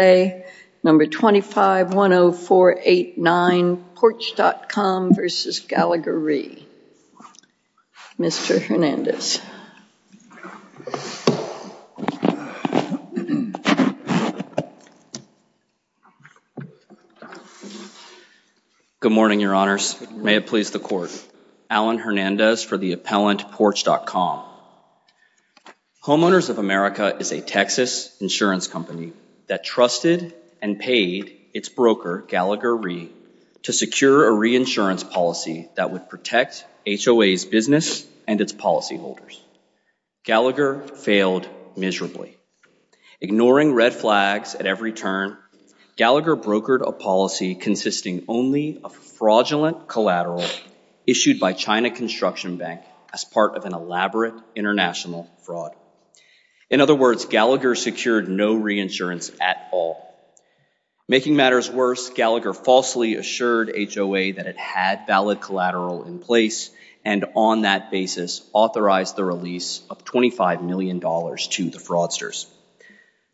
number 2510489 Porch.com v. Gallagher Re. Mr. Hernandez. Good morning, your honors. May it please the court. Alan Hernandez for the appellant Porch.com. Homeowners of America is a Texas insurance company that trusted and paid its broker, Gallagher Re, to secure a reinsurance policy that would protect HOA's business and its policy holders. Gallagher failed miserably. Ignoring red flags at every turn, Gallagher brokered a policy consisting only of fraudulent collateral issued by China Construction Bank as part of an elaborate international fraud. In other words, Gallagher secured no reinsurance at all. Making matters worse, Gallagher falsely assured HOA that it had valid collateral in place and on that basis authorized the release of 25 million dollars to the fraudsters.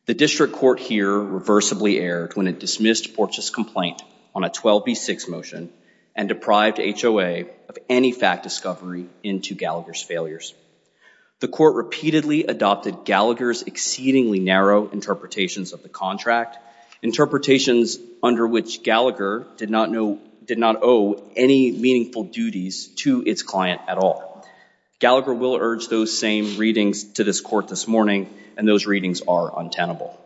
The district court here reversibly erred when it dismissed Porch's complaint on a 12b6 motion and deprived HOA of any fact discovery into Gallagher's failures. The court repeatedly adopted Gallagher's exceedingly narrow interpretations of the contract. Interpretations under which Gallagher did not know did not owe any meaningful duties to its client at all. Gallagher will urge those same readings to this court this morning and those readings are untenable.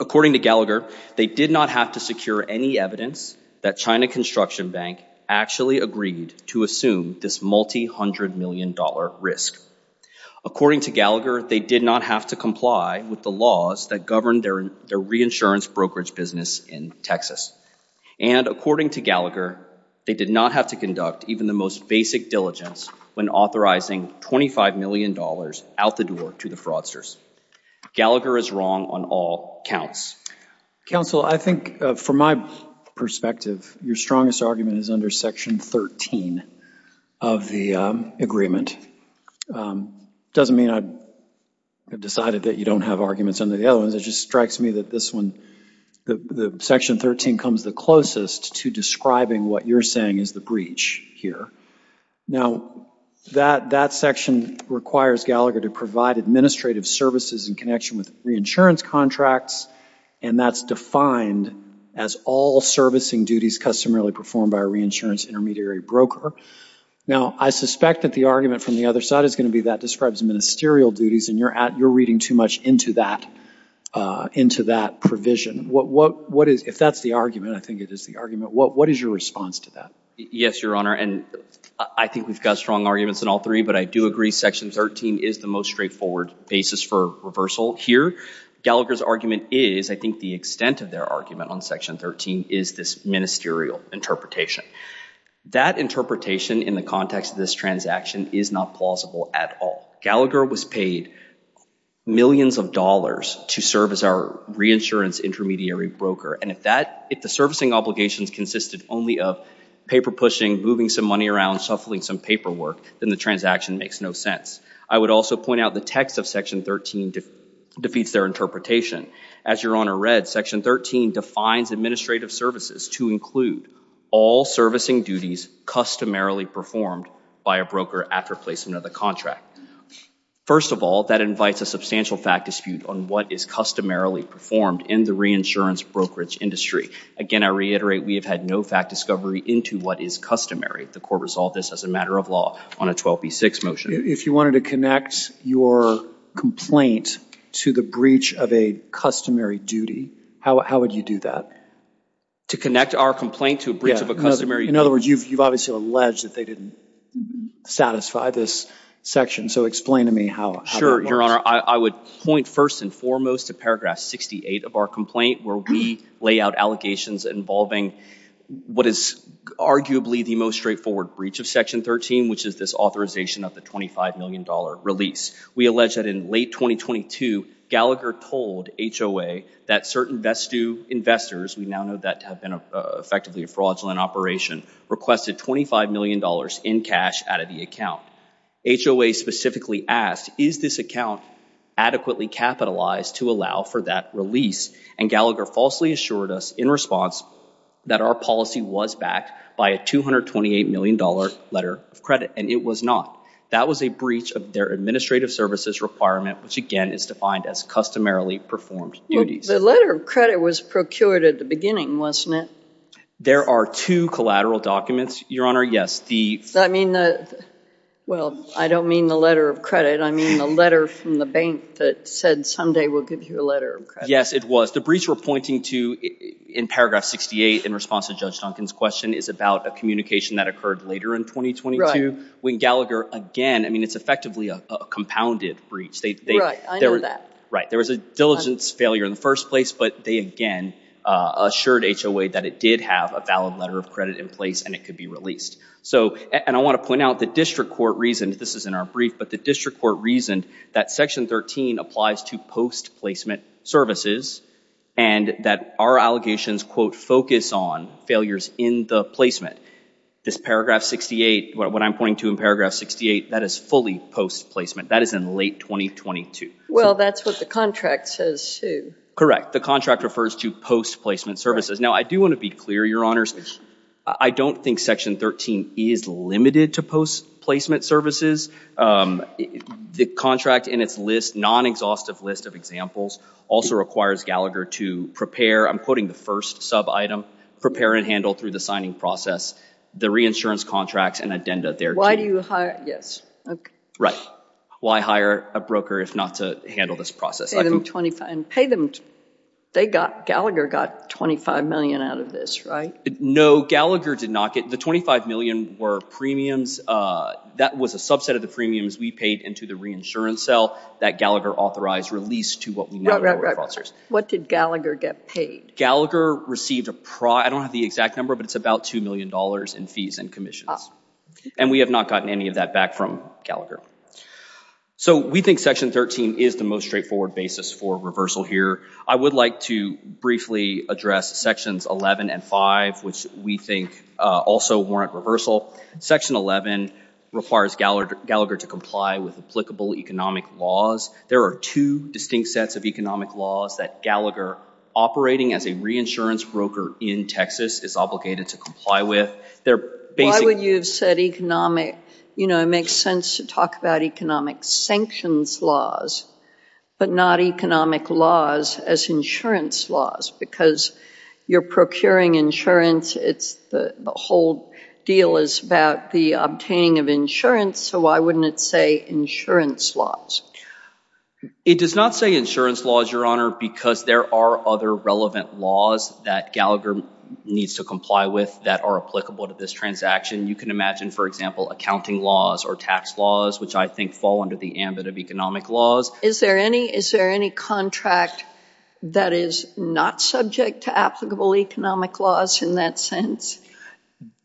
According to Gallagher, they did not have to secure any evidence that China Construction Bank actually agreed to assume this multi-hundred million dollar risk. According to Gallagher, they did not have to comply with the laws that govern their reinsurance brokerage business in Texas. And according to Gallagher, they did not have to conduct even the most basic diligence when authorizing 25 million dollars out the door to the fraudsters. Gallagher is wrong on all counts. Counsel, I think from my perspective, your strongest argument is under section 13 of the agreement. Doesn't mean I've decided that you don't have arguments under the other ones, it just strikes me that this one, the section 13 comes the closest to describing what you're saying is the breach here. Now, that section requires Gallagher to provide administrative services in connection with reinsurance contracts and that's defined as all servicing duties customarily performed by a reinsurance intermediary broker. Now, I suspect that the argument from the other side is going to be that describes ministerial duties and you're reading too much into that provision. If that's the argument, I think it is the argument, what is your response to that? Yes, your honor, and I think we've got strong arguments in all three, but I do agree section 13 is the most straightforward basis for reversal here. Gallagher's argument is, I think the extent of their argument on section 13 is this ministerial interpretation. That interpretation in the context of this transaction is not plausible at all. Gallagher was paid millions of dollars to serve as our reinsurance intermediary broker and if that, if the servicing obligations consisted only of paper pushing, moving some money around, shuffling some paperwork, then the transaction makes no sense. I would also point out the text of section 13 defeats their interpretation. As your honor read, section 13 defines administrative services to include all servicing duties customarily performed by a broker after placement of the contract. First of all, that invites a substantial fact dispute on what is customarily performed in the reinsurance brokerage industry. Again, I reiterate, we have had no fact discovery into what is customary. The court resolved this as a matter of law on a 12b6 motion. If you wanted to connect your complaint to the breach of a customary duty, how would you do that? To connect our complaint to a breach of a customary? In other words, you've obviously alleged that they didn't satisfy this section, so explain to me how. Sure, your honor, I would point first and foremost to paragraph 68 of our complaint, where we lay out allegations involving what is arguably the most straightforward breach of section 13, which is this authorization of the $25 million release. We allege that in late 2022, Gallagher told HOA that certain Vestu investors, we now know that to have been effectively a fraudulent operation, requested $25 million in cash out of the account. HOA specifically asked, is this account adequately capitalized to allow for that release? And Gallagher falsely assured us in response that our policy was backed by a $228 million letter of credit, and it was not. That was a breach of their administrative services requirement, which again is defined as customarily performed duties. The letter of credit was procured at the beginning, wasn't it? There are two collateral documents, your honor, yes. I mean, well, I don't mean the letter of credit, I mean the letter from the bank that said someday we'll give you a letter of credit. Yes, it was. The breach we're pointing to in paragraph 68 in response to Judge Duncan's question is about a communication that occurred later in 2022, when Gallagher again, I mean, it's effectively a compounded breach. Right, I know that. Right, there was a diligence failure in the first place, but they again assured HOA that it did have a valid letter of credit in place and it could be released. So, and I want to point out the district court reasoned, this is in our brief, but the district court reasoned that section 13 applies to post-placement services and that our allegations quote focus on failures in the placement. This paragraph 68, what I'm pointing to in paragraph 68, that is fully post-placement. That is in late 2022. Well, that's what the contract says too. Correct, the contract refers to post-placement services. Now, I do want to be clear, your honors, I don't think section 13 is limited to post-placement services. The contract in its list, non-exhaustive list of examples, also requires Gallagher to prepare, I'm quoting the first sub-item, prepare and handle through the signing process, the reinsurance contracts and addenda there. Why do you hire, yes, okay. Right, why hire a broker if not to handle this process. And pay them they got, Gallagher got 25 million out of this, right? No, Gallagher did not get, the 25 million were premiums, that was a subset of the premiums we paid into the reinsurance cell that Gallagher authorized release to what we know. What did Gallagher get paid? Gallagher received, I don't have the exact number, but it's about two million dollars in fees and commissions and we have not gotten any of that back from Gallagher. So, we think section 13 is the most straightforward basis for reversal here. I would like to briefly address sections 11 and 5, which we think also warrant reversal. Section 11 requires Gallagher to comply with applicable economic laws. There are two distinct sets of economic laws that Gallagher operating as a reinsurance broker in Texas is obligated to comply with. Why would you have said economic, you know, makes sense to talk about economic sanctions laws, but not economic laws as insurance laws, because you're procuring insurance, it's the whole deal is about the obtaining of insurance, so why wouldn't it say insurance laws? It does not say insurance laws, your honor, because there are other relevant laws that Gallagher needs to comply with that are applicable to this transaction. You can imagine, for example, accounting laws or tax laws, which I think fall under the ambit of economic laws. Is there any, is there any contract that is not subject to applicable economic laws in that sense?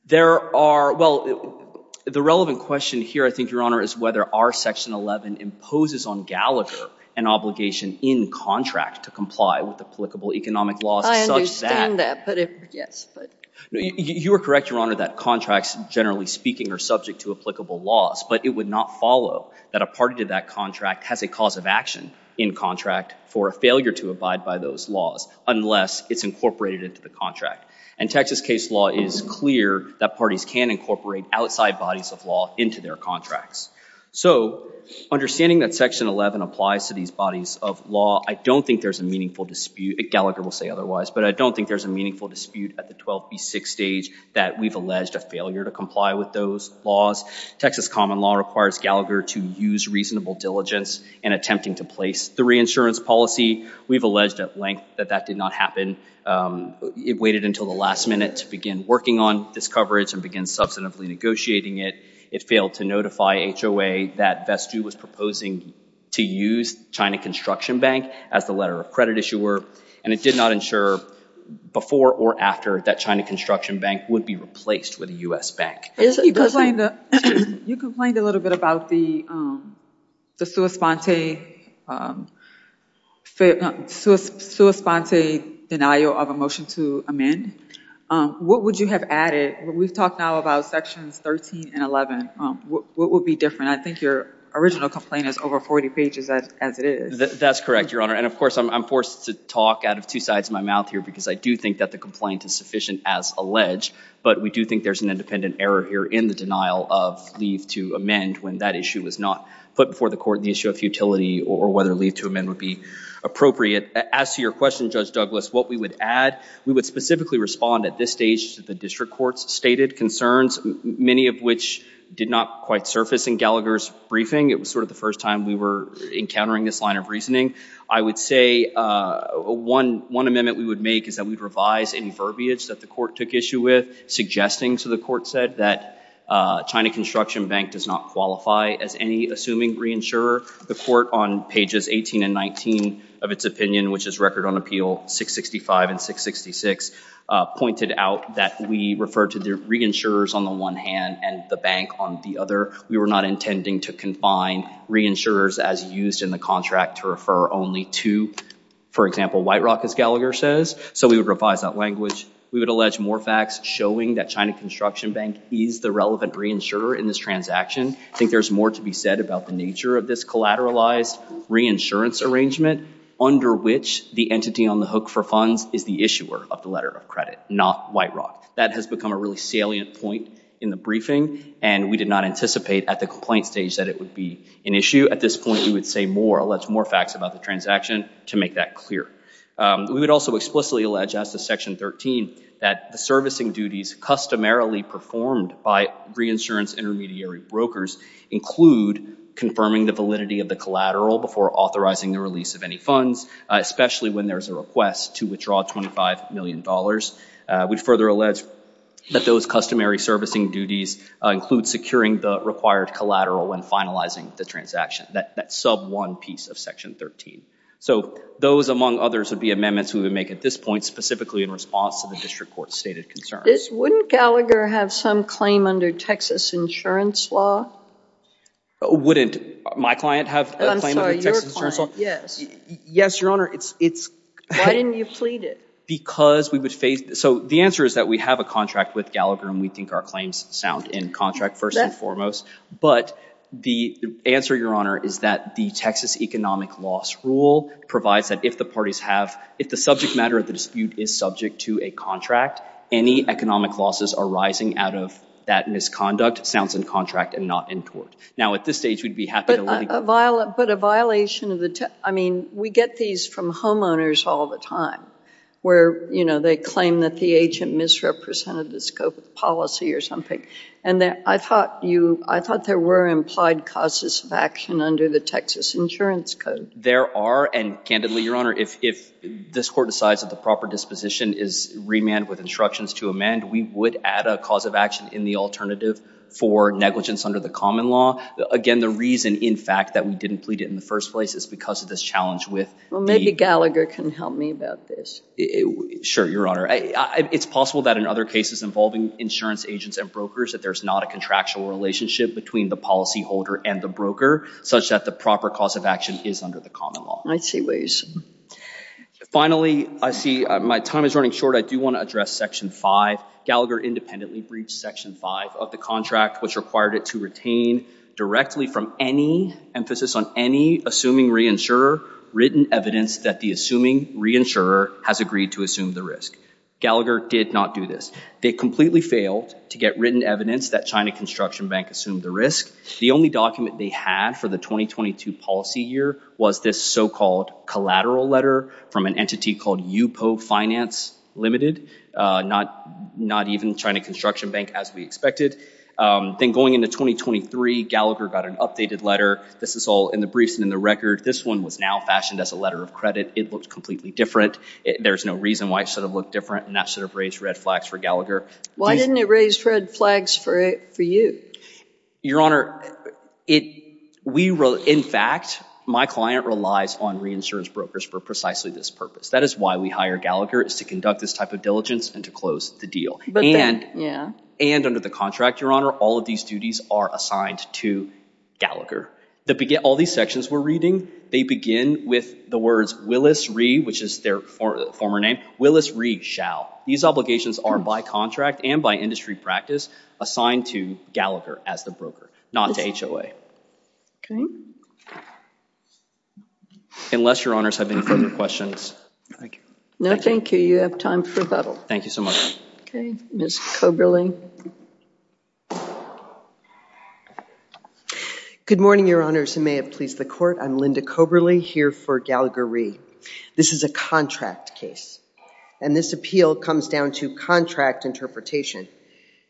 There are, well, the relevant question here, I think, your honor, is whether our section 11 imposes on Gallagher an obligation in contract to comply with applicable economic laws such that... I understand that, but if, yes, but... You are correct, your honor, that contracts, generally speaking, are subject to applicable laws, but it would not follow that a party to that contract has a cause of action in contract for a failure to abide by those laws unless it's incorporated into the contract. And Texas case law is clear that parties can incorporate outside bodies of law into their contracts. So understanding that section 11 applies to these bodies of law, I don't think there's a meaningful dispute, Gallagher will say otherwise, but I don't think there's a meaningful dispute at the 12B6 stage that we've alleged a failure to comply with those laws. Texas common law requires Gallagher to use reasonable diligence in attempting to place the reinsurance policy. We've alleged at length that that did not happen. It waited until the last minute to begin working on this coverage and begin substantively negotiating it. It failed to notify HOA that Vestu was proposing to use China Construction Bank as the letter of credit issuer, and it did not ensure before or after that China Construction Bank would be replaced with a U.S. bank. You complained a little bit about the sua sponte denial of a motion to amend. What would you have added? We've talked now about sections 13 and 11. What would be different? I think your original complaint is over 40 pages as it is. That's correct, Your Honor. And of course, I'm forced to talk out of two sides of my mouth here because I do think that the complaint is sufficient as alleged, but we do think there's an independent error here in the denial of leave to amend when that issue was not put before the court, the issue of futility or whether leave to amend would be appropriate. As to your question, Judge Douglas, what we would add, we would specifically respond at this stage to the district court's stated concerns, many of which did not quite surface in Gallagher's briefing. It was sort of the first time we were encountering this line of reasoning. I would say one amendment we would make is that we'd revise any verbiage that the court took issue with, suggesting, so the court said, that China Construction Bank does not qualify as any assuming reinsurer. The court on pages 18 and 19 of its 1966 pointed out that we refer to the reinsurers on the one hand and the bank on the other. We were not intending to confine reinsurers as used in the contract to refer only to, for example, White Rock, as Gallagher says. So we would revise that language. We would allege more facts showing that China Construction Bank is the relevant reinsurer in this transaction. I think there's more to be said about the nature of this collateralized reinsurance arrangement under which the entity on the hook for funds is the issuer of the letter of credit, not White Rock. That has become a really salient point in the briefing and we did not anticipate at the complaint stage that it would be an issue. At this point, we would say more, allege more facts about the transaction to make that clear. We would also explicitly allege as to section 13 that the servicing duties customarily performed by reinsurance intermediary brokers include confirming the validity of the collateral before authorizing the release of any funds, especially when there's a request to withdraw $25 million. We further allege that those customary servicing duties include securing the required collateral when finalizing the transaction, that sub one piece of section 13. So those among others would be amendments we would make at this point specifically in response to the district stated concerns. Wouldn't Gallagher have some claim under Texas insurance law? Wouldn't my client have a claim under Texas insurance law? I'm sorry, your client, yes. Yes, Your Honor, it's... Why didn't you plead it? Because we would face... So the answer is that we have a contract with Gallagher and we think our claims sound in contract first and foremost, but the answer, Your Honor, is that the Texas economic loss rule provides that if the parties have, if the subject matter of the dispute is subject to a contract, any economic losses arising out of that misconduct sounds in contract and not in tort. Now, at this stage, we'd be happy to let you... But a violation of the... I mean, we get these from homeowners all the time where they claim that the agent misrepresented the scope of policy or something. And I thought there were implied causes of action under the Texas insurance code. There are, and candidly, Your Honor, if this court decides that the proper disposition is remanded with instructions to amend, we would add a cause of action in the alternative for negligence under the common law. Again, the reason, in fact, that we didn't plead it in the first place is because of this challenge with the... Well, maybe Gallagher can help me about this. Sure, Your Honor. It's possible that in other cases involving insurance agents and brokers that there's not a contractual relationship between the policyholder and the broker, such that the proper cause of action is under the common law. I see ways. Finally, I see my time is running short. I do want to address Section 5. Gallagher independently breached Section 5 of the contract, which required it to retain directly from any emphasis on any assuming reinsurer written evidence that the assuming reinsurer has agreed to assume the risk. Gallagher did not do this. They completely failed to get written evidence that China Construction Bank assumed the risk. The only document they had for the 2022 policy year was this so-called collateral letter from an entity called Yupo Finance Limited, not even China Construction Bank as we expected. Then going into 2023, Gallagher got an updated letter. This is all in the briefs and in the record. This one was now fashioned as a letter of credit. It looked completely different. There's no reason why it should have looked different, and that should have raised red flags for Gallagher. Why didn't it raise red flags for you? Your Honor, in fact, my client relies on reinsurance brokers for precisely this purpose. That is why we hire Gallagher, is to conduct this type of diligence and to close the deal. And under the contract, Your Honor, all of these duties are assigned to Gallagher. All these sections we're reading, they begin with the words Willis-Ree, which is their former name. Willis-Ree shall. These obligations are by contract and by industry practice assigned to Gallagher as the broker, not to HOA. Okay. Unless Your Honors have any further questions. Thank you. No, thank you. You have time for rebuttal. Thank you so much. Okay. Ms. Coberly. Good morning, Your Honors, and may it please the Court. I'm Linda Coberly here for Gallagher-Ree. This is a contract case, and this appeal comes down to contract interpretation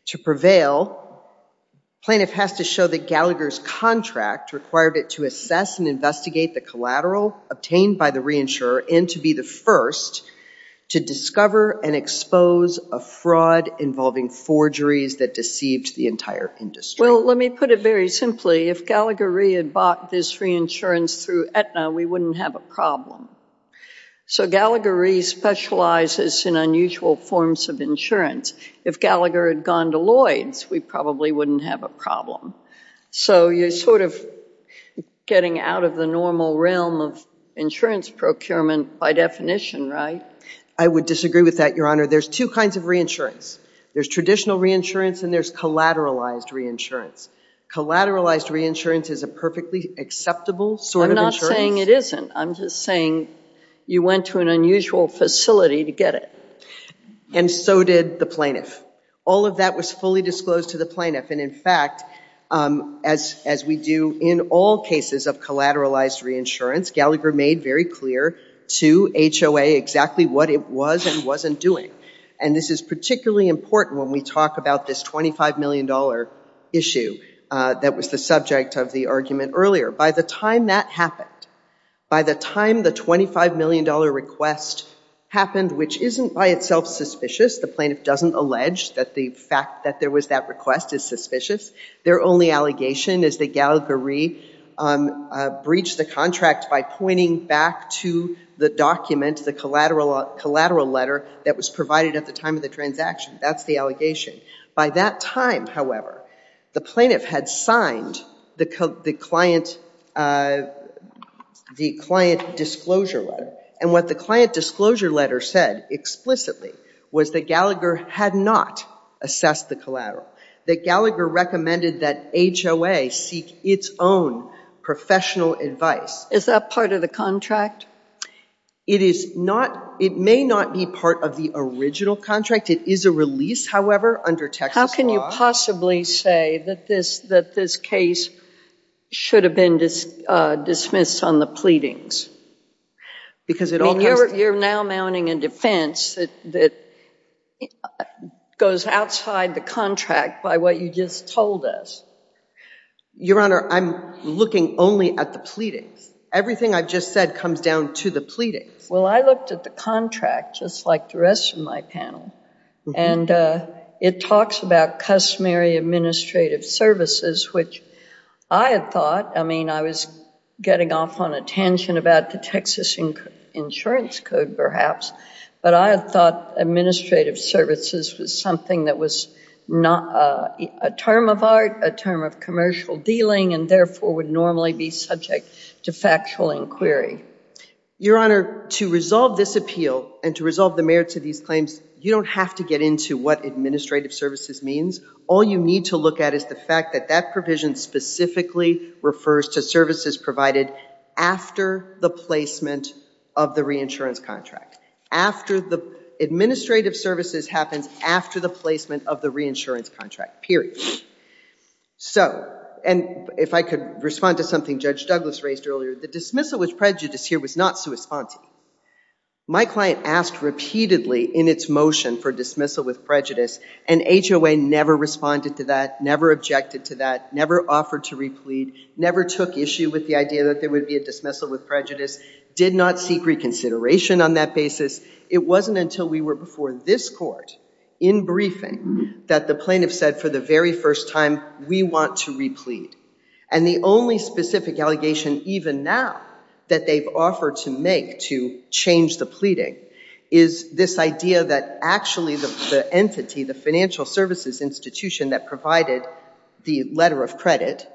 to prevail. Plaintiff has to show that Gallagher's contract required it to assess and investigate the collateral obtained by the reinsurer and to be the first to discover and expose a fraud involving forgeries that deceived the entire industry. Well, let me put it very simply. If Gallagher-Ree had bought this reinsurance through Aetna, we wouldn't have a problem. So Gallagher-Ree specializes in unusual forms of insurance. If Gallagher had gone to Lloyd's, we probably wouldn't have a problem. So you're sort of getting out of the normal realm of insurance procurement by definition, right? I would disagree with that, Your Honor. There's two kinds of reinsurance. There's traditional reinsurance, and there's collateralized reinsurance. Collateralized reinsurance is a perfectly acceptable sort of insurance. I'm not saying it isn't. I'm just saying you went to an unusual facility to get it. And so did the plaintiff. All of that was fully disclosed to the plaintiff. And in fact, as we do in all cases of collateralized reinsurance, Gallagher made very clear to HOA exactly what it was and wasn't doing. And this is particularly important when we talk about this $25 million issue that was the subject of the argument earlier. By the time that happened, by the time the $25 million request happened, which isn't by itself suspicious. The plaintiff doesn't allege that the fact that there was that request is suspicious. Their only allegation is that Gallagher-Ree breached the contract by pointing back to the document, the collateral letter that was provided at the time of the transaction. That's the allegation. By that time, however, the plaintiff had signed the client disclosure letter. And what the client disclosure letter said explicitly was that Gallagher had not assessed the collateral. That Gallagher recommended that HOA seek its own professional advice. Is that part of the contract? It may not be part of the original contract. It is a release, however, under Texas law. How can you possibly say that this case should have been dismissed on the pleadings? You're now mounting a defense that goes outside the contract by what you just told us. Your Honor, I'm looking only at the pleadings. Everything I've just said comes down to the pleadings. Well, I looked at the contract, just like the rest of my panel. And it talks about customary administrative services, which I had thought, I mean, I was getting off on a tangent about the Texas Insurance Code, perhaps. But I had thought administrative services was something that was not a term of art, a term of commercial dealing, and therefore would normally be subject to factual inquiry. Your Honor, to resolve this appeal and to resolve the merits of these claims, you don't have to get into what administrative services means. All you need to look at is the fact that that provision specifically refers to services provided after the placement of the reinsurance contract, after the administrative services happens after the placement of the reinsurance contract, period. So, and if I could respond to something Judge Douglas raised earlier, the dismissal with prejudice here was not sui sponte. My client asked repeatedly in its motion for dismissal with prejudice, and HOA never responded to that, never objected to that, never offered to replete, never took issue with the idea that there would be a dismissal with prejudice, did not seek reconsideration on that basis. It wasn't until we were before this court in briefing that the plaintiff said for the very first time, we want to replete. And the only specific allegation even now that they've offered to make to change the pleading is this idea that actually the entity, the financial services institution that provided the letter of credit,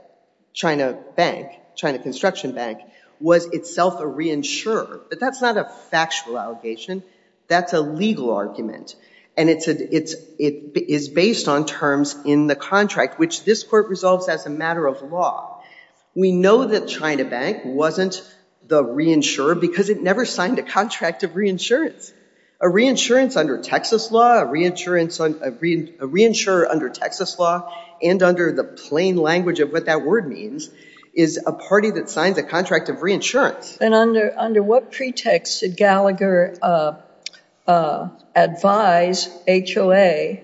China Bank, China Construction Bank, was itself a reinsurer. But that's not a factual allegation, that's a legal argument. And it's based on terms in the contract, which this court resolves as a matter of law. We know that China Bank wasn't the reinsurer because it never signed a contract of reinsurance. A reinsurance under Texas law, a reinsurer under Texas law, and under the plain language of what that word means, is a party that signs a contract of reinsurance. And under what pretext did Gallagher advise HOA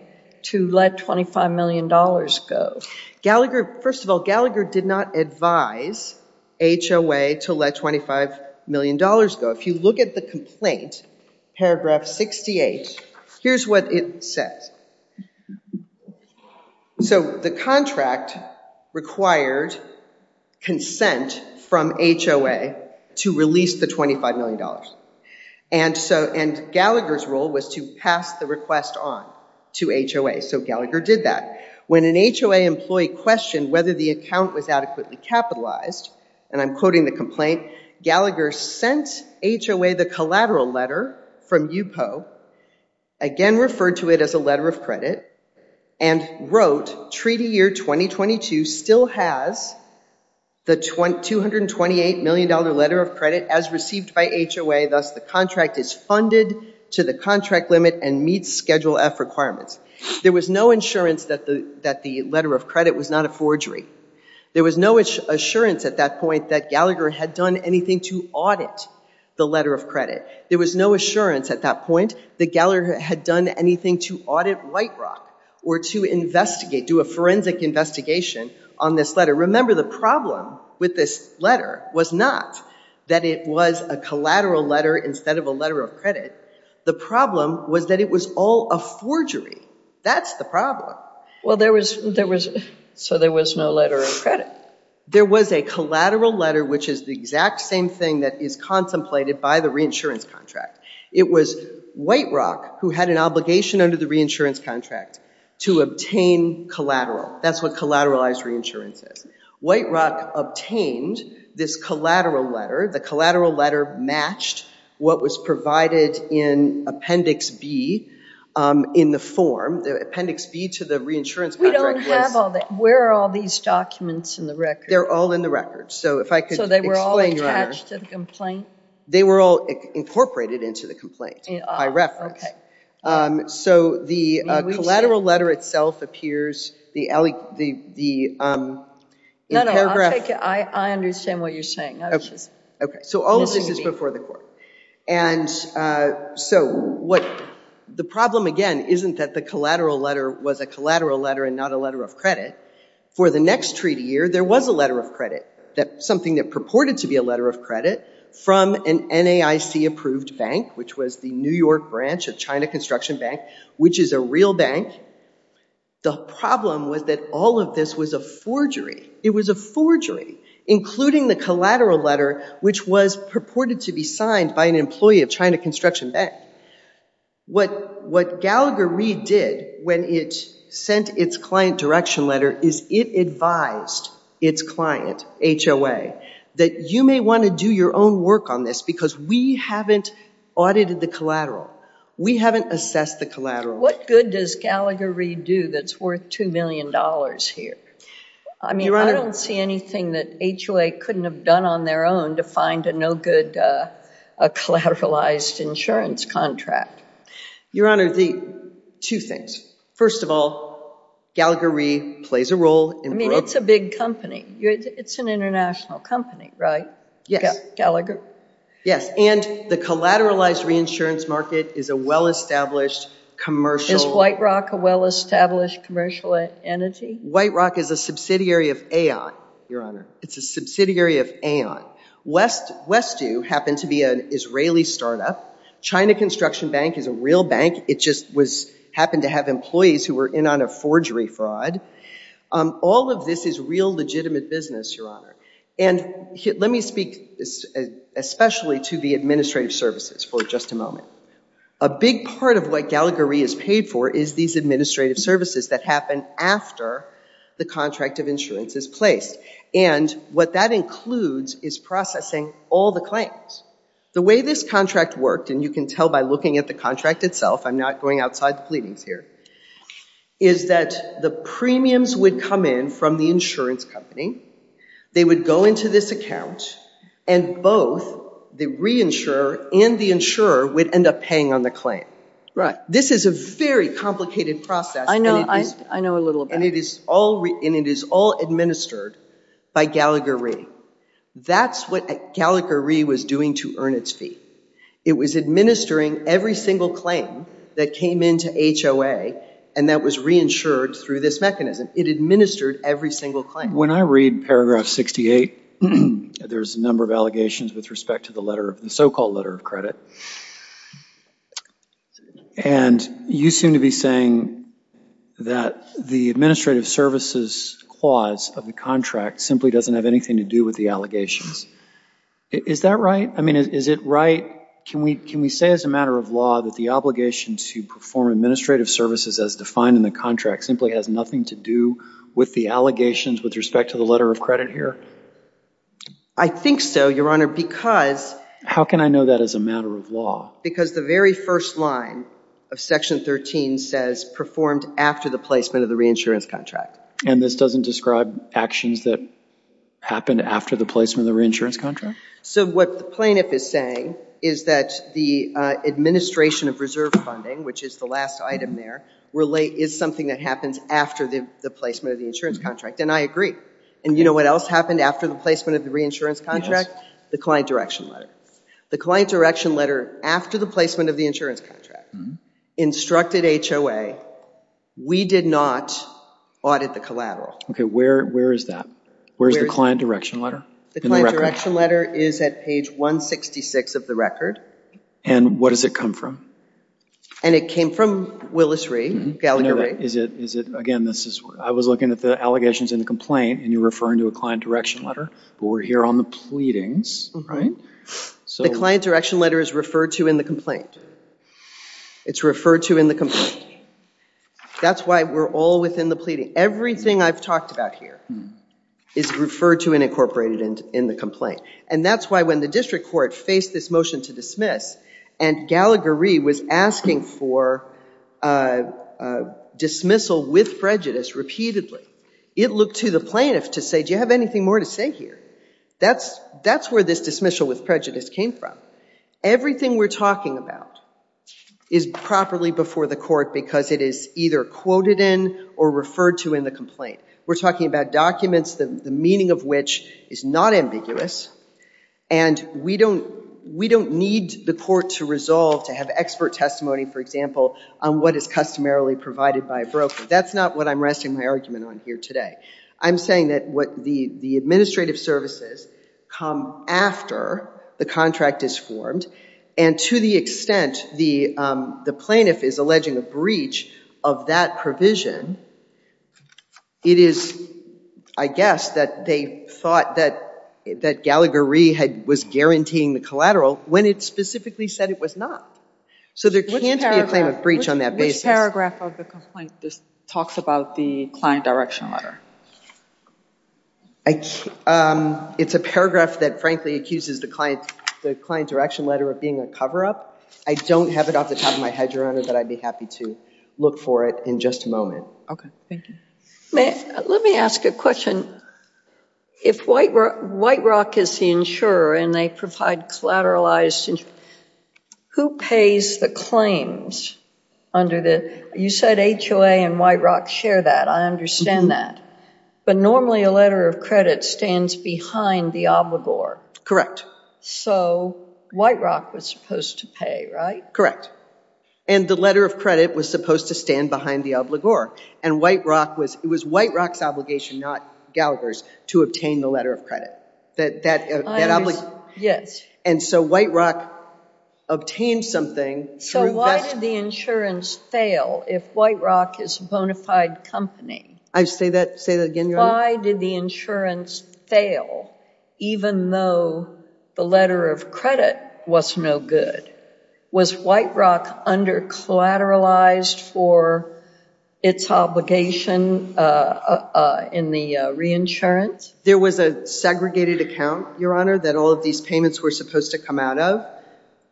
to let $25 million go? First of all, Gallagher did not advise HOA to let $25 million go. If you look at the complaint, paragraph 68, here's what it says. So the contract required consent from HOA to release the $25 million. And so, and Gallagher's role was to pass the request on to HOA. So Gallagher did that. When an HOA employee questioned whether the account was adequately capitalized, and I'm quoting the complaint, Gallagher sent HOA the collateral letter from UPO, again referred to it as a letter of credit, and wrote, Treaty Year 2022 still has the $228 million letter of credit as received by HOA, thus the contract is funded to the contract limit and meets Schedule F requirements. There was no insurance that the letter of credit was not a forgery. There was no assurance at that point that Gallagher had done anything to audit the letter of credit. There was no assurance at that point that Gallagher had done anything to audit White Rock or to investigate, do a forensic investigation on this letter. Remember, the problem with this letter was not that it was a collateral letter instead of a letter of credit. The problem was that it was all a forgery. That's the problem. Well, there was, there was, so there was no letter of credit. There was a collateral letter, which is the exact same thing that is contemplated by the reinsurance contract. It was White Rock who had an obligation under the reinsurance contract to obtain collateral. That's what collateralized reinsurance is. White Rock obtained this collateral letter. The collateral letter matched what was provided in Appendix B in the form, the Appendix B to the reinsurance contract. We don't have all that. Where are all these documents in the record? They're all in the record. So if I could explain. So they were all attached to the complaint? They were all incorporated into the complaint by reference. So the collateral letter itself appears, the, the, the, in paragraph. No, no, I'll take it. I, what the problem again, isn't that the collateral letter was a collateral letter and not a letter of credit. For the next treaty year, there was a letter of credit, that something that purported to be a letter of credit from an NAIC approved bank, which was the New York branch of China Construction Bank, which is a real bank. The problem was that all of this was a forgery. It was a forgery, including the collateral letter, which was purported to be signed by an employee of China Construction Bank. What, what Gallagher-Reed did when it sent its client direction letter is it advised its client, HOA, that you may want to do your own work on this because we haven't audited the collateral. We haven't assessed the collateral. What good does Gallagher-Reed do that's worth two million dollars here? I mean, I don't see anything that HOA couldn't have done on their own to find a no-good collateralized insurance contract. Your Honor, the two things. First of all, Gallagher-Reed plays a role. I mean, it's a big company. It's an international company, right? Yes. Gallagher. Yes, and the collateralized reinsurance market is a well-established commercial. Is White Rock a well-established commercial entity? White Rock is a subsidiary of Aon, Your Honor. It's a subsidiary of Aon. West, Westview happened to be an Israeli startup. China Construction Bank is a real bank. It just was, happened to have employees who were in on a forgery fraud. All of this is real legitimate business, Your Honor, and let me speak especially to the administrative services for just a moment. A big part of what Gallagher-Reed is paid for is these administrative services that happen after the contract of insurance is placed, and what that includes is processing all the claims. The way this contract worked, and you can tell by looking at the contract itself, I'm not going outside the pleadings here, is that the premiums would come in from the insurance company. They would go into this account, and both the reinsurer and the insurer would end up paying on the claim. Right. This is a very complicated process. I know, I know a little bit. And it is all, and it is all administered by Gallagher-Reed. That's what Gallagher-Reed was doing to earn its fee. It was administering every single claim that came into HOA, and that was reinsured through this mechanism. It administered every single claim. When I read paragraph 68, there's a number of allegations with respect to the letter, the so-called letter of credit. And you seem to be saying that the administrative services clause of the contract simply doesn't have anything to do with the allegations. Is that right? I mean, is it right, can we say as a matter of law that the obligation to perform administrative services as defined in the contract simply has nothing to do with the allegations with respect to the letter of credit here? I think so, Your Honor, because... How can I know that as a matter of law? Because the very first line of section 13 says performed after the placement of the reinsurance contract. And this doesn't describe actions that happened after the placement of the reinsurance contract? So what the plaintiff is saying is that the administration of reserve funding, which is the last item there, is something that happens after the placement of the insurance contract. And I agree. And you know what else happened after the placement of the reinsurance contract? The client direction letter. The client direction letter after the placement of the insurance contract instructed HOA, we did not audit the collateral. Okay, where is that? Where's the client direction letter? The client direction letter is at page 166 of the record. And what does it come from? And it came from Willis-Ree, Gallagher-Ree. Is it, is it, again, this is, I was looking at the allegations in the complaint and you're referring to a client direction letter, but we're here on the pleadings, right? So the client direction letter is referred to in the complaint. It's referred to in the complaint. That's why we're all within the pleading. Everything I've talked about here is referred to and incorporated in the complaint. And that's why when the district court faced this motion to dismiss and Gallagher-Ree was asking for dismissal with prejudice repeatedly, it looked to the plaintiff to say, do you have anything more to say here? That's, that's where this dismissal with prejudice came from. Everything we're talking about is properly before the court because it is either quoted in or referred to in the complaint. We're talking about documents that the meaning of which is not ambiguous. And we don't, we don't need the court to resolve to have expert testimony, for example, on what is customarily provided by a broker. That's not what I'm resting my argument on here today. I'm saying that what the, the administrative services come after the contract is formed and to the extent the plaintiff is alleging a breach of that provision, it is, I guess, that they thought that, that Gallagher-Ree had, was guaranteeing the collateral when it specifically said it was not. So there can't be a claim of breach on that basis. Which paragraph of the complaint talks about the client direction letter? I, it's a paragraph that frankly accuses the client, the client direction letter of being a I don't have it off the top of my head, Your Honor, but I'd be happy to look for it in just a moment. Okay, thank you. May, let me ask a question. If White, White Rock is the insurer and they provide collateralized, who pays the claims under the, you said HOA and White Rock share that. I understand that. But normally a letter of credit stands behind the obligor. Correct. So White Rock was supposed to pay, right? Correct. And the letter of credit was supposed to stand behind the obligor. And White Rock was, it was White Rock's obligation, not Gallagher's, to obtain the letter of credit. That, that obligation. Yes. And so White Rock obtained something. So why did the insurance fail if White Rock is a bona fide company? I say that, say that again, Your Honor? Why did the insurance fail even though the letter of credit was no good? Was White Rock under collateralized for its obligation in the reinsurance? There was a segregated account, Your Honor, that all of these payments were supposed to come out of.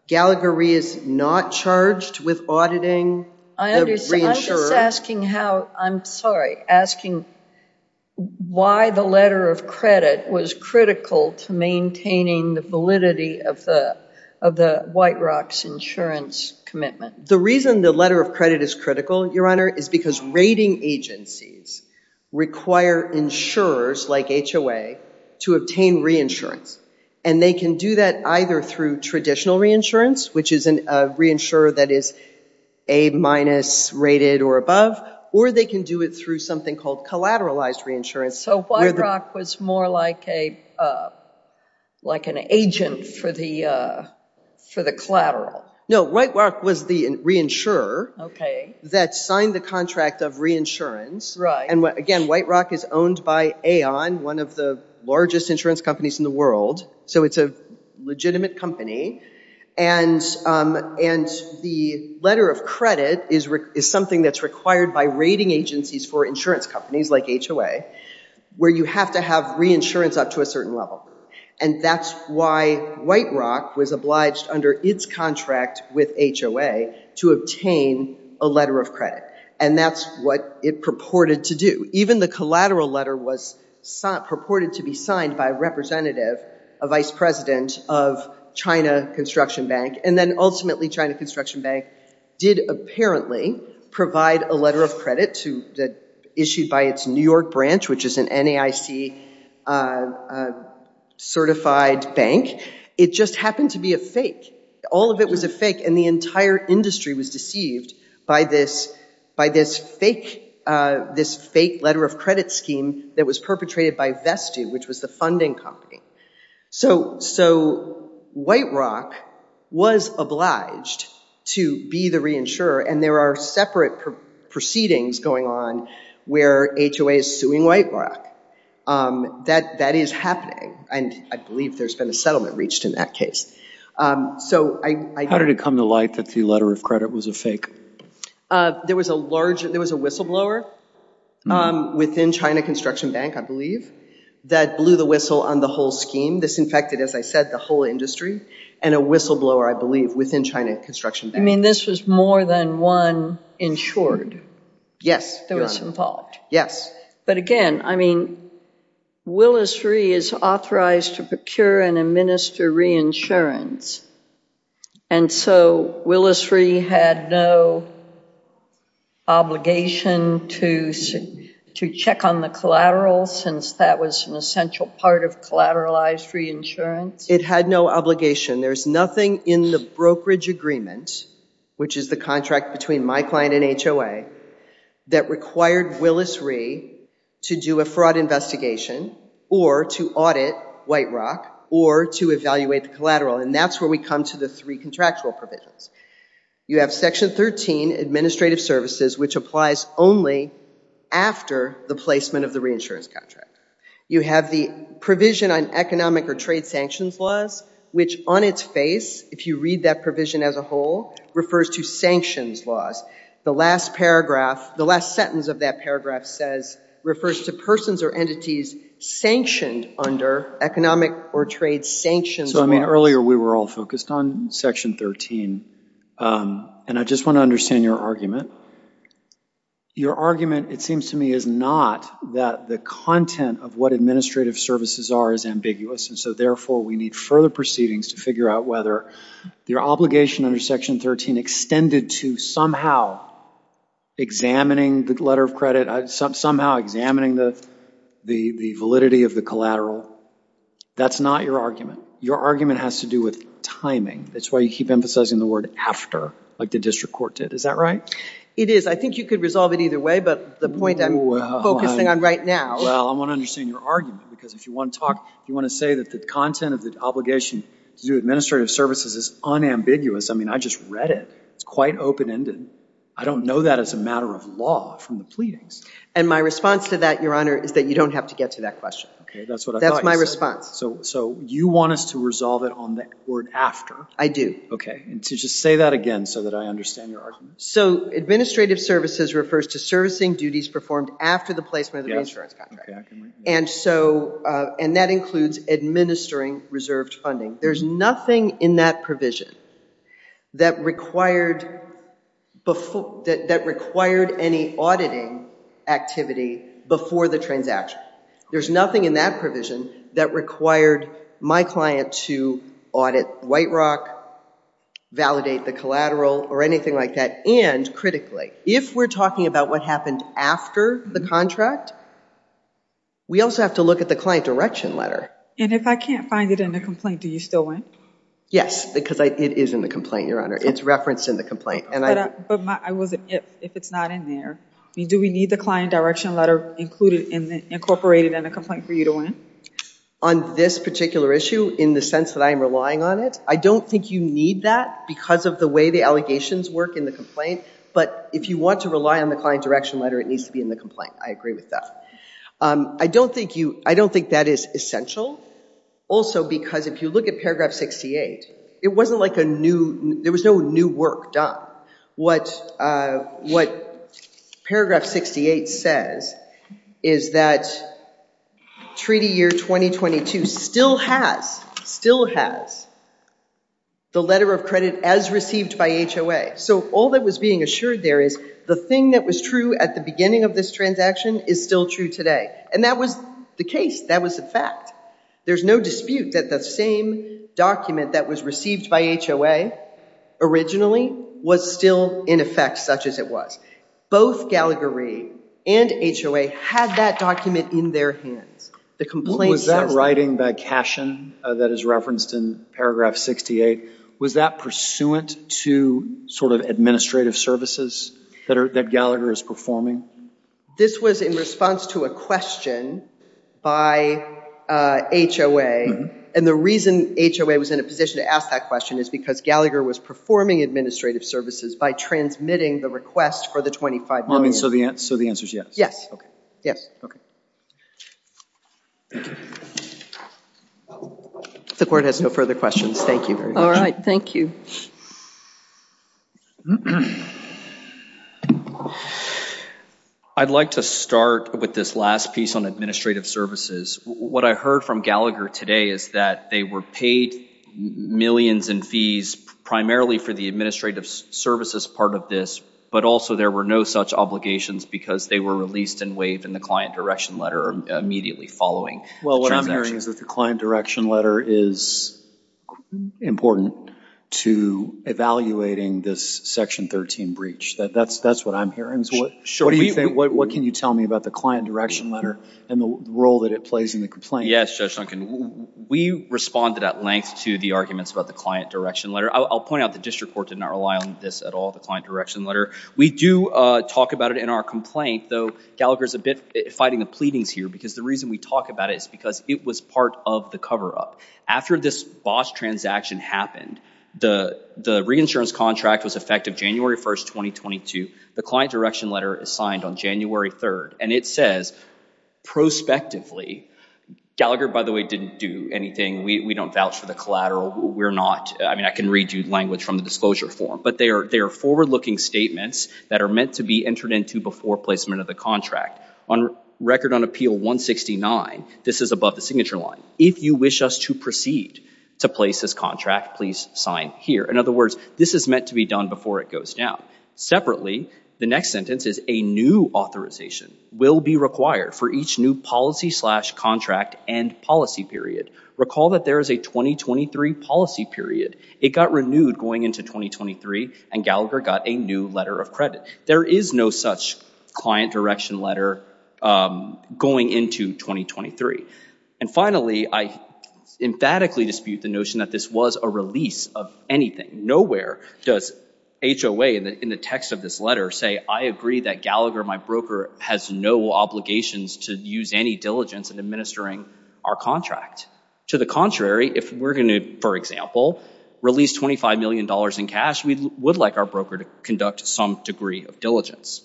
Gallagher is not charged with auditing the reinsurer. I understand. I'm just asking how, I'm sorry, asking why the letter of credit was critical to maintaining the validity of the, of the White Rock's insurance commitment. The reason the letter of credit is critical, Your Honor, is because rating agencies require insurers like HOA to obtain reinsurance. And they can do that either through traditional reinsurance, which is a reinsurer that is A- rated or above, or they can do it through something called collateralized reinsurance. So White Rock was more like a, like an agent for the, for the collateral. No, White Rock was the reinsurer that signed the contract of reinsurance. Right. And again, White Rock is owned by Aon, one of the largest insurance companies in the world. So it's a legitimate company. And, and the letter of credit is, is something that's required by rating agencies for insurance companies like HOA, where you have to have reinsurance up to a certain level. And that's why White Rock was obliged under its contract with HOA to obtain a letter of credit. And that's what it purported to do. Even the collateral letter was purported to be signed by a representative, a vice president of China Construction Bank. And then ultimately China Construction Bank did apparently provide a letter of credit to the, issued by its New York branch, which is an NAIC certified bank. It just happened to be a fake. All of it was a fake and the entire industry was deceived by this, by this fake, this fake letter of credit scheme that was perpetrated by Vestu, which was the funding company. So, so White Rock was obliged to be the reinsurer and there are separate proceedings going on where HOA is suing White Rock. That, that is happening. And I believe there's been a settlement reached in that case. So I- How did it come to light that the letter of credit was a fake? There was a large, there was a whistleblower within China Construction Bank, I believe, that blew the whistle on the whole scheme. This infected, as I said, the whole industry and a whistleblower, I believe, within China Construction Bank. You mean this was more than one insured? Yes. That was involved? Yes. But again, I mean, Willis-Ree is authorized to procure and administer reinsurance. And so Willis-Ree had no obligation to, to check on the collateral since that was an essential part of collateralized reinsurance? It had no obligation. There's nothing in the brokerage agreement, which is the contract between my client and HOA, that required Willis-Ree to do a fraud investigation or to audit White Rock or to evaluate the collateral. And that's where we come to the three contractual provisions. You have section 13, administrative services, which applies only after the placement of the reinsurance contract. You have the provision on economic or trade sanctions laws, which on its face, if you read that provision as a whole, refers to sanctions laws. The last paragraph, the last sentence of that paragraph says, refers to persons or entities sanctioned under economic or trade sanctions. So I mean, earlier we were all focused on section 13. And I just want to understand your argument. Your argument, it seems to me, is not that the content of what administrative services are is ambiguous. And so therefore we need further proceedings to figure out whether your obligation under section 13 extended to somehow examining the letter of Your argument has to do with timing. That's why you keep emphasizing the word after, like the district court did. Is that right? It is. I think you could resolve it either way, but the point I'm focusing on right now. Well, I want to understand your argument, because if you want to talk, you want to say that the content of the obligation to do administrative services is unambiguous. I mean, I just read it. It's quite open-ended. I don't know that as a matter of law from the pleadings. And my response to that, Your Honor, is that you want us to resolve it on the word after. I do. Okay. And to just say that again so that I understand your argument. So administrative services refers to servicing duties performed after the placement of the reinsurance contract. And that includes administering reserved funding. There's nothing in that provision that required any auditing activity before the transaction. There's nothing in that provision that required my client to audit White Rock, validate the collateral, or anything like that. And critically, if we're talking about what happened after the contract, we also have to look at the client direction letter. And if I can't find it in the complaint, do you still want? Yes, because it is in the complaint, Your Honor. It's referenced in the included in the incorporated in the complaint for you to win. On this particular issue, in the sense that I am relying on it, I don't think you need that because of the way the allegations work in the complaint. But if you want to rely on the client direction letter, it needs to be in the complaint. I agree with that. I don't think that is essential. Also, because if you look at paragraph 68, it wasn't like a new, there was no new work done. What paragraph 68 says is that Treaty Year 2022 still has the letter of credit as received by HOA. So all that was being assured there is the thing that was true at the beginning of this transaction is still true today. And that was the case. That was the fact. There's no dispute that the same document that was received by HOA originally was still in effect such as it was. Both Gallagher and HOA had that document in their hands. The complaint says that. Was that writing by Cashion that is referenced in paragraph 68, was that pursuant to sort of administrative services that Gallagher is performing? This was in response to a question by HOA. And the reason HOA was in a position to ask that question is because Gallagher was performing administrative services by transmitting the request for the $25 million. So the answer is yes? Yes. The court has no further questions. Thank you. All right. Thank you. I'd like to start with this last piece on administrative services. What I heard from Gallagher today is that they were paid millions in fees primarily for the administrative services part of this, but also there were no such obligations because they were released and waived in the client direction letter immediately following. Well, what I'm hearing is that the client direction letter is important to evaluating this Section 13 breach. That's what I'm hearing. What can you tell me about the client direction letter and the role that it plays in the complaint? Yes, Judge Duncan. We responded at length to the arguments about the client direction letter. I'll point out the district court did not rely on this at all, the client direction letter. We do talk about it in our complaint, though Gallagher is a bit fighting the pleadings here because the reason we talk about it is because it was part of the cover-up. After this BOSH transaction happened, the reinsurance contract was effective January 1st, 2022. The client direction letter is signed on January 3rd and it says, prospectively, Gallagher, by the way, didn't do anything. We don't vouch for the collateral. We're not, I mean, I can read you language from the disclosure form, but they are forward-looking statements that are meant to be entered into before placement of the contract. On Record on Appeal 169, this is above the signature line. If you wish us to proceed to place this contract, please sign here. In other words, this is meant to be done before it goes down. Separately, the next sentence is, a new authorization will be required for each new policy slash contract and policy period. Recall that there is a 2023 policy period. It got renewed going into 2023 and Gallagher got a new letter of credit. There is no such client direction letter going into 2023. And finally, I emphatically dispute the notion that this was a release of anything. Nowhere does HOA in the text of this letter say, I agree that Gallagher, my broker, has no obligations to use any diligence in administering our contract. To the contrary, if we're going to, for example, release $25 million in cash, we would like our broker to conduct some degree of diligence.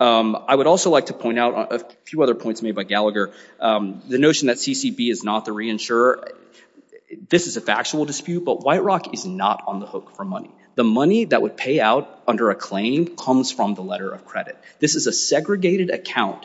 I would also like to point out a few other points made by Gallagher. The notion that CCB is not the reinsurer, this is a factual dispute, but White Rock is not on the hook for money. The money that would pay out under a claim comes from the letter of credit. This is a segregated account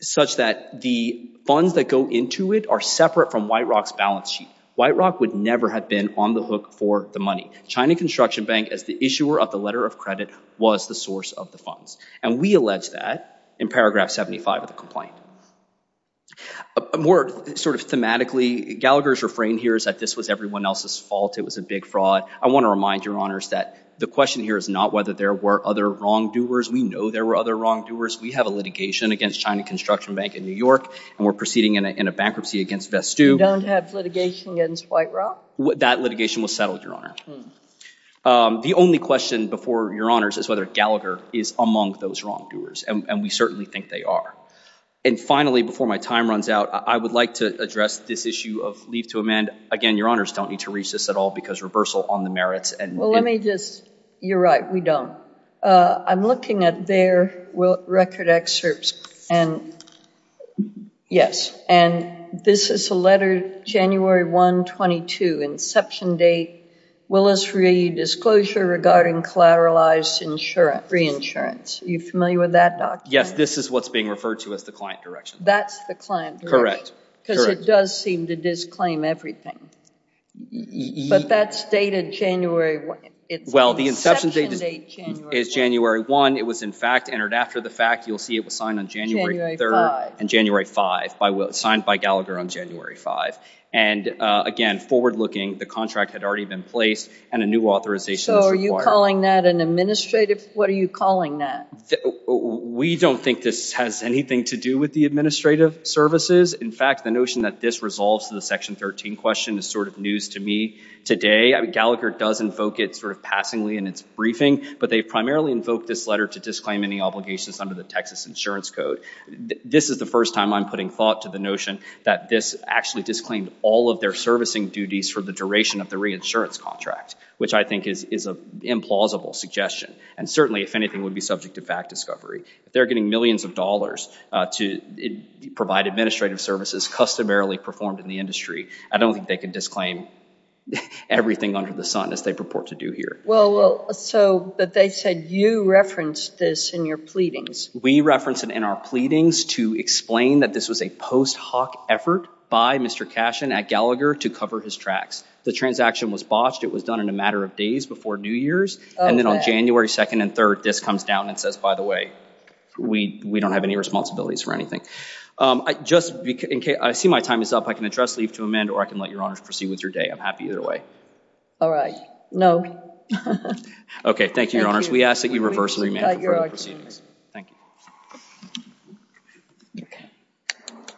such that the funds that go into it are separate from White Rock's balance sheet. White Rock would never have been on the hook for the money. China Construction Bank, as the issuer of the letter of credit, was the source of the funds. And we allege that in paragraph 75 of the complaint. More sort of thematically, Gallagher's refrain here is that this was everyone else's fault. It was a big fraud. I want to remind Your Honors that the question here is not whether there were other wrongdoers. We know there were other wrongdoers. We have a litigation against China Construction Bank in New York, and we're proceeding in a bankruptcy against Vestu. You don't have litigation against White Rock? That litigation was settled, Your Honor. The only question before Your Honors is whether Gallagher is among those wrongdoers, and we certainly think they are. And finally, before my time runs out, I would like to address this issue of leave to amend. Again, Your Honors don't need to reach this at all because reversal on the merits and... Well, let me just... You're right, we don't. I'm looking at their record excerpts, and yes, and this is a letter, January 1, 22, inception date, Willis-Reed disclosure regarding collateralized insurance, re-insurance. Are you familiar with that document? Yes, this is what's being referred to as the client direction. That's the client direction. Correct. Because it does seem to disclaim everything, but that's dated January 1. Well, the inception date is January 1. It was, in fact, entered after the fact. You'll see it was signed on January 3 and January 5, signed by Gallagher on January 5. And again, forward-looking, the contract had already been placed and a new authorization is required. So are you calling that an administrative... What are you calling that? We don't think this has anything to do with the administrative services. In fact, the notion that this resolves to the Section 13 question is sort of news to me today. Gallagher does invoke it sort of passingly in its briefing, but they've primarily invoked this letter to disclaim any obligations under the Texas Insurance Code. This is the first time I'm putting thought to the notion that this actually disclaimed all of their servicing duties for the duration of the reinsurance contract, which I think is an implausible suggestion. And certainly, if anything, would be subject to fact discovery. If they're getting millions of dollars to provide administrative services customarily performed in the industry, I don't think they could disclaim everything under the sun as they purport to do here. Well, so they said you referenced this in your pleadings. We referenced it in our pleadings to explain that this was a post hoc effort by Mr. Cashin at Gallagher to cover his tracks. The transaction was botched. It was done in a matter of days before New Year's. And then on January 2nd and 3rd, this comes down and says, by the way, we don't have any responsibilities for anything. I see my time is up. I can address, leave to amend, or I can let your honors proceed with your day. I'm happy either way. All right. No. Okay. Thank you. We ask that you reverse and remand for further proceedings. Thank you.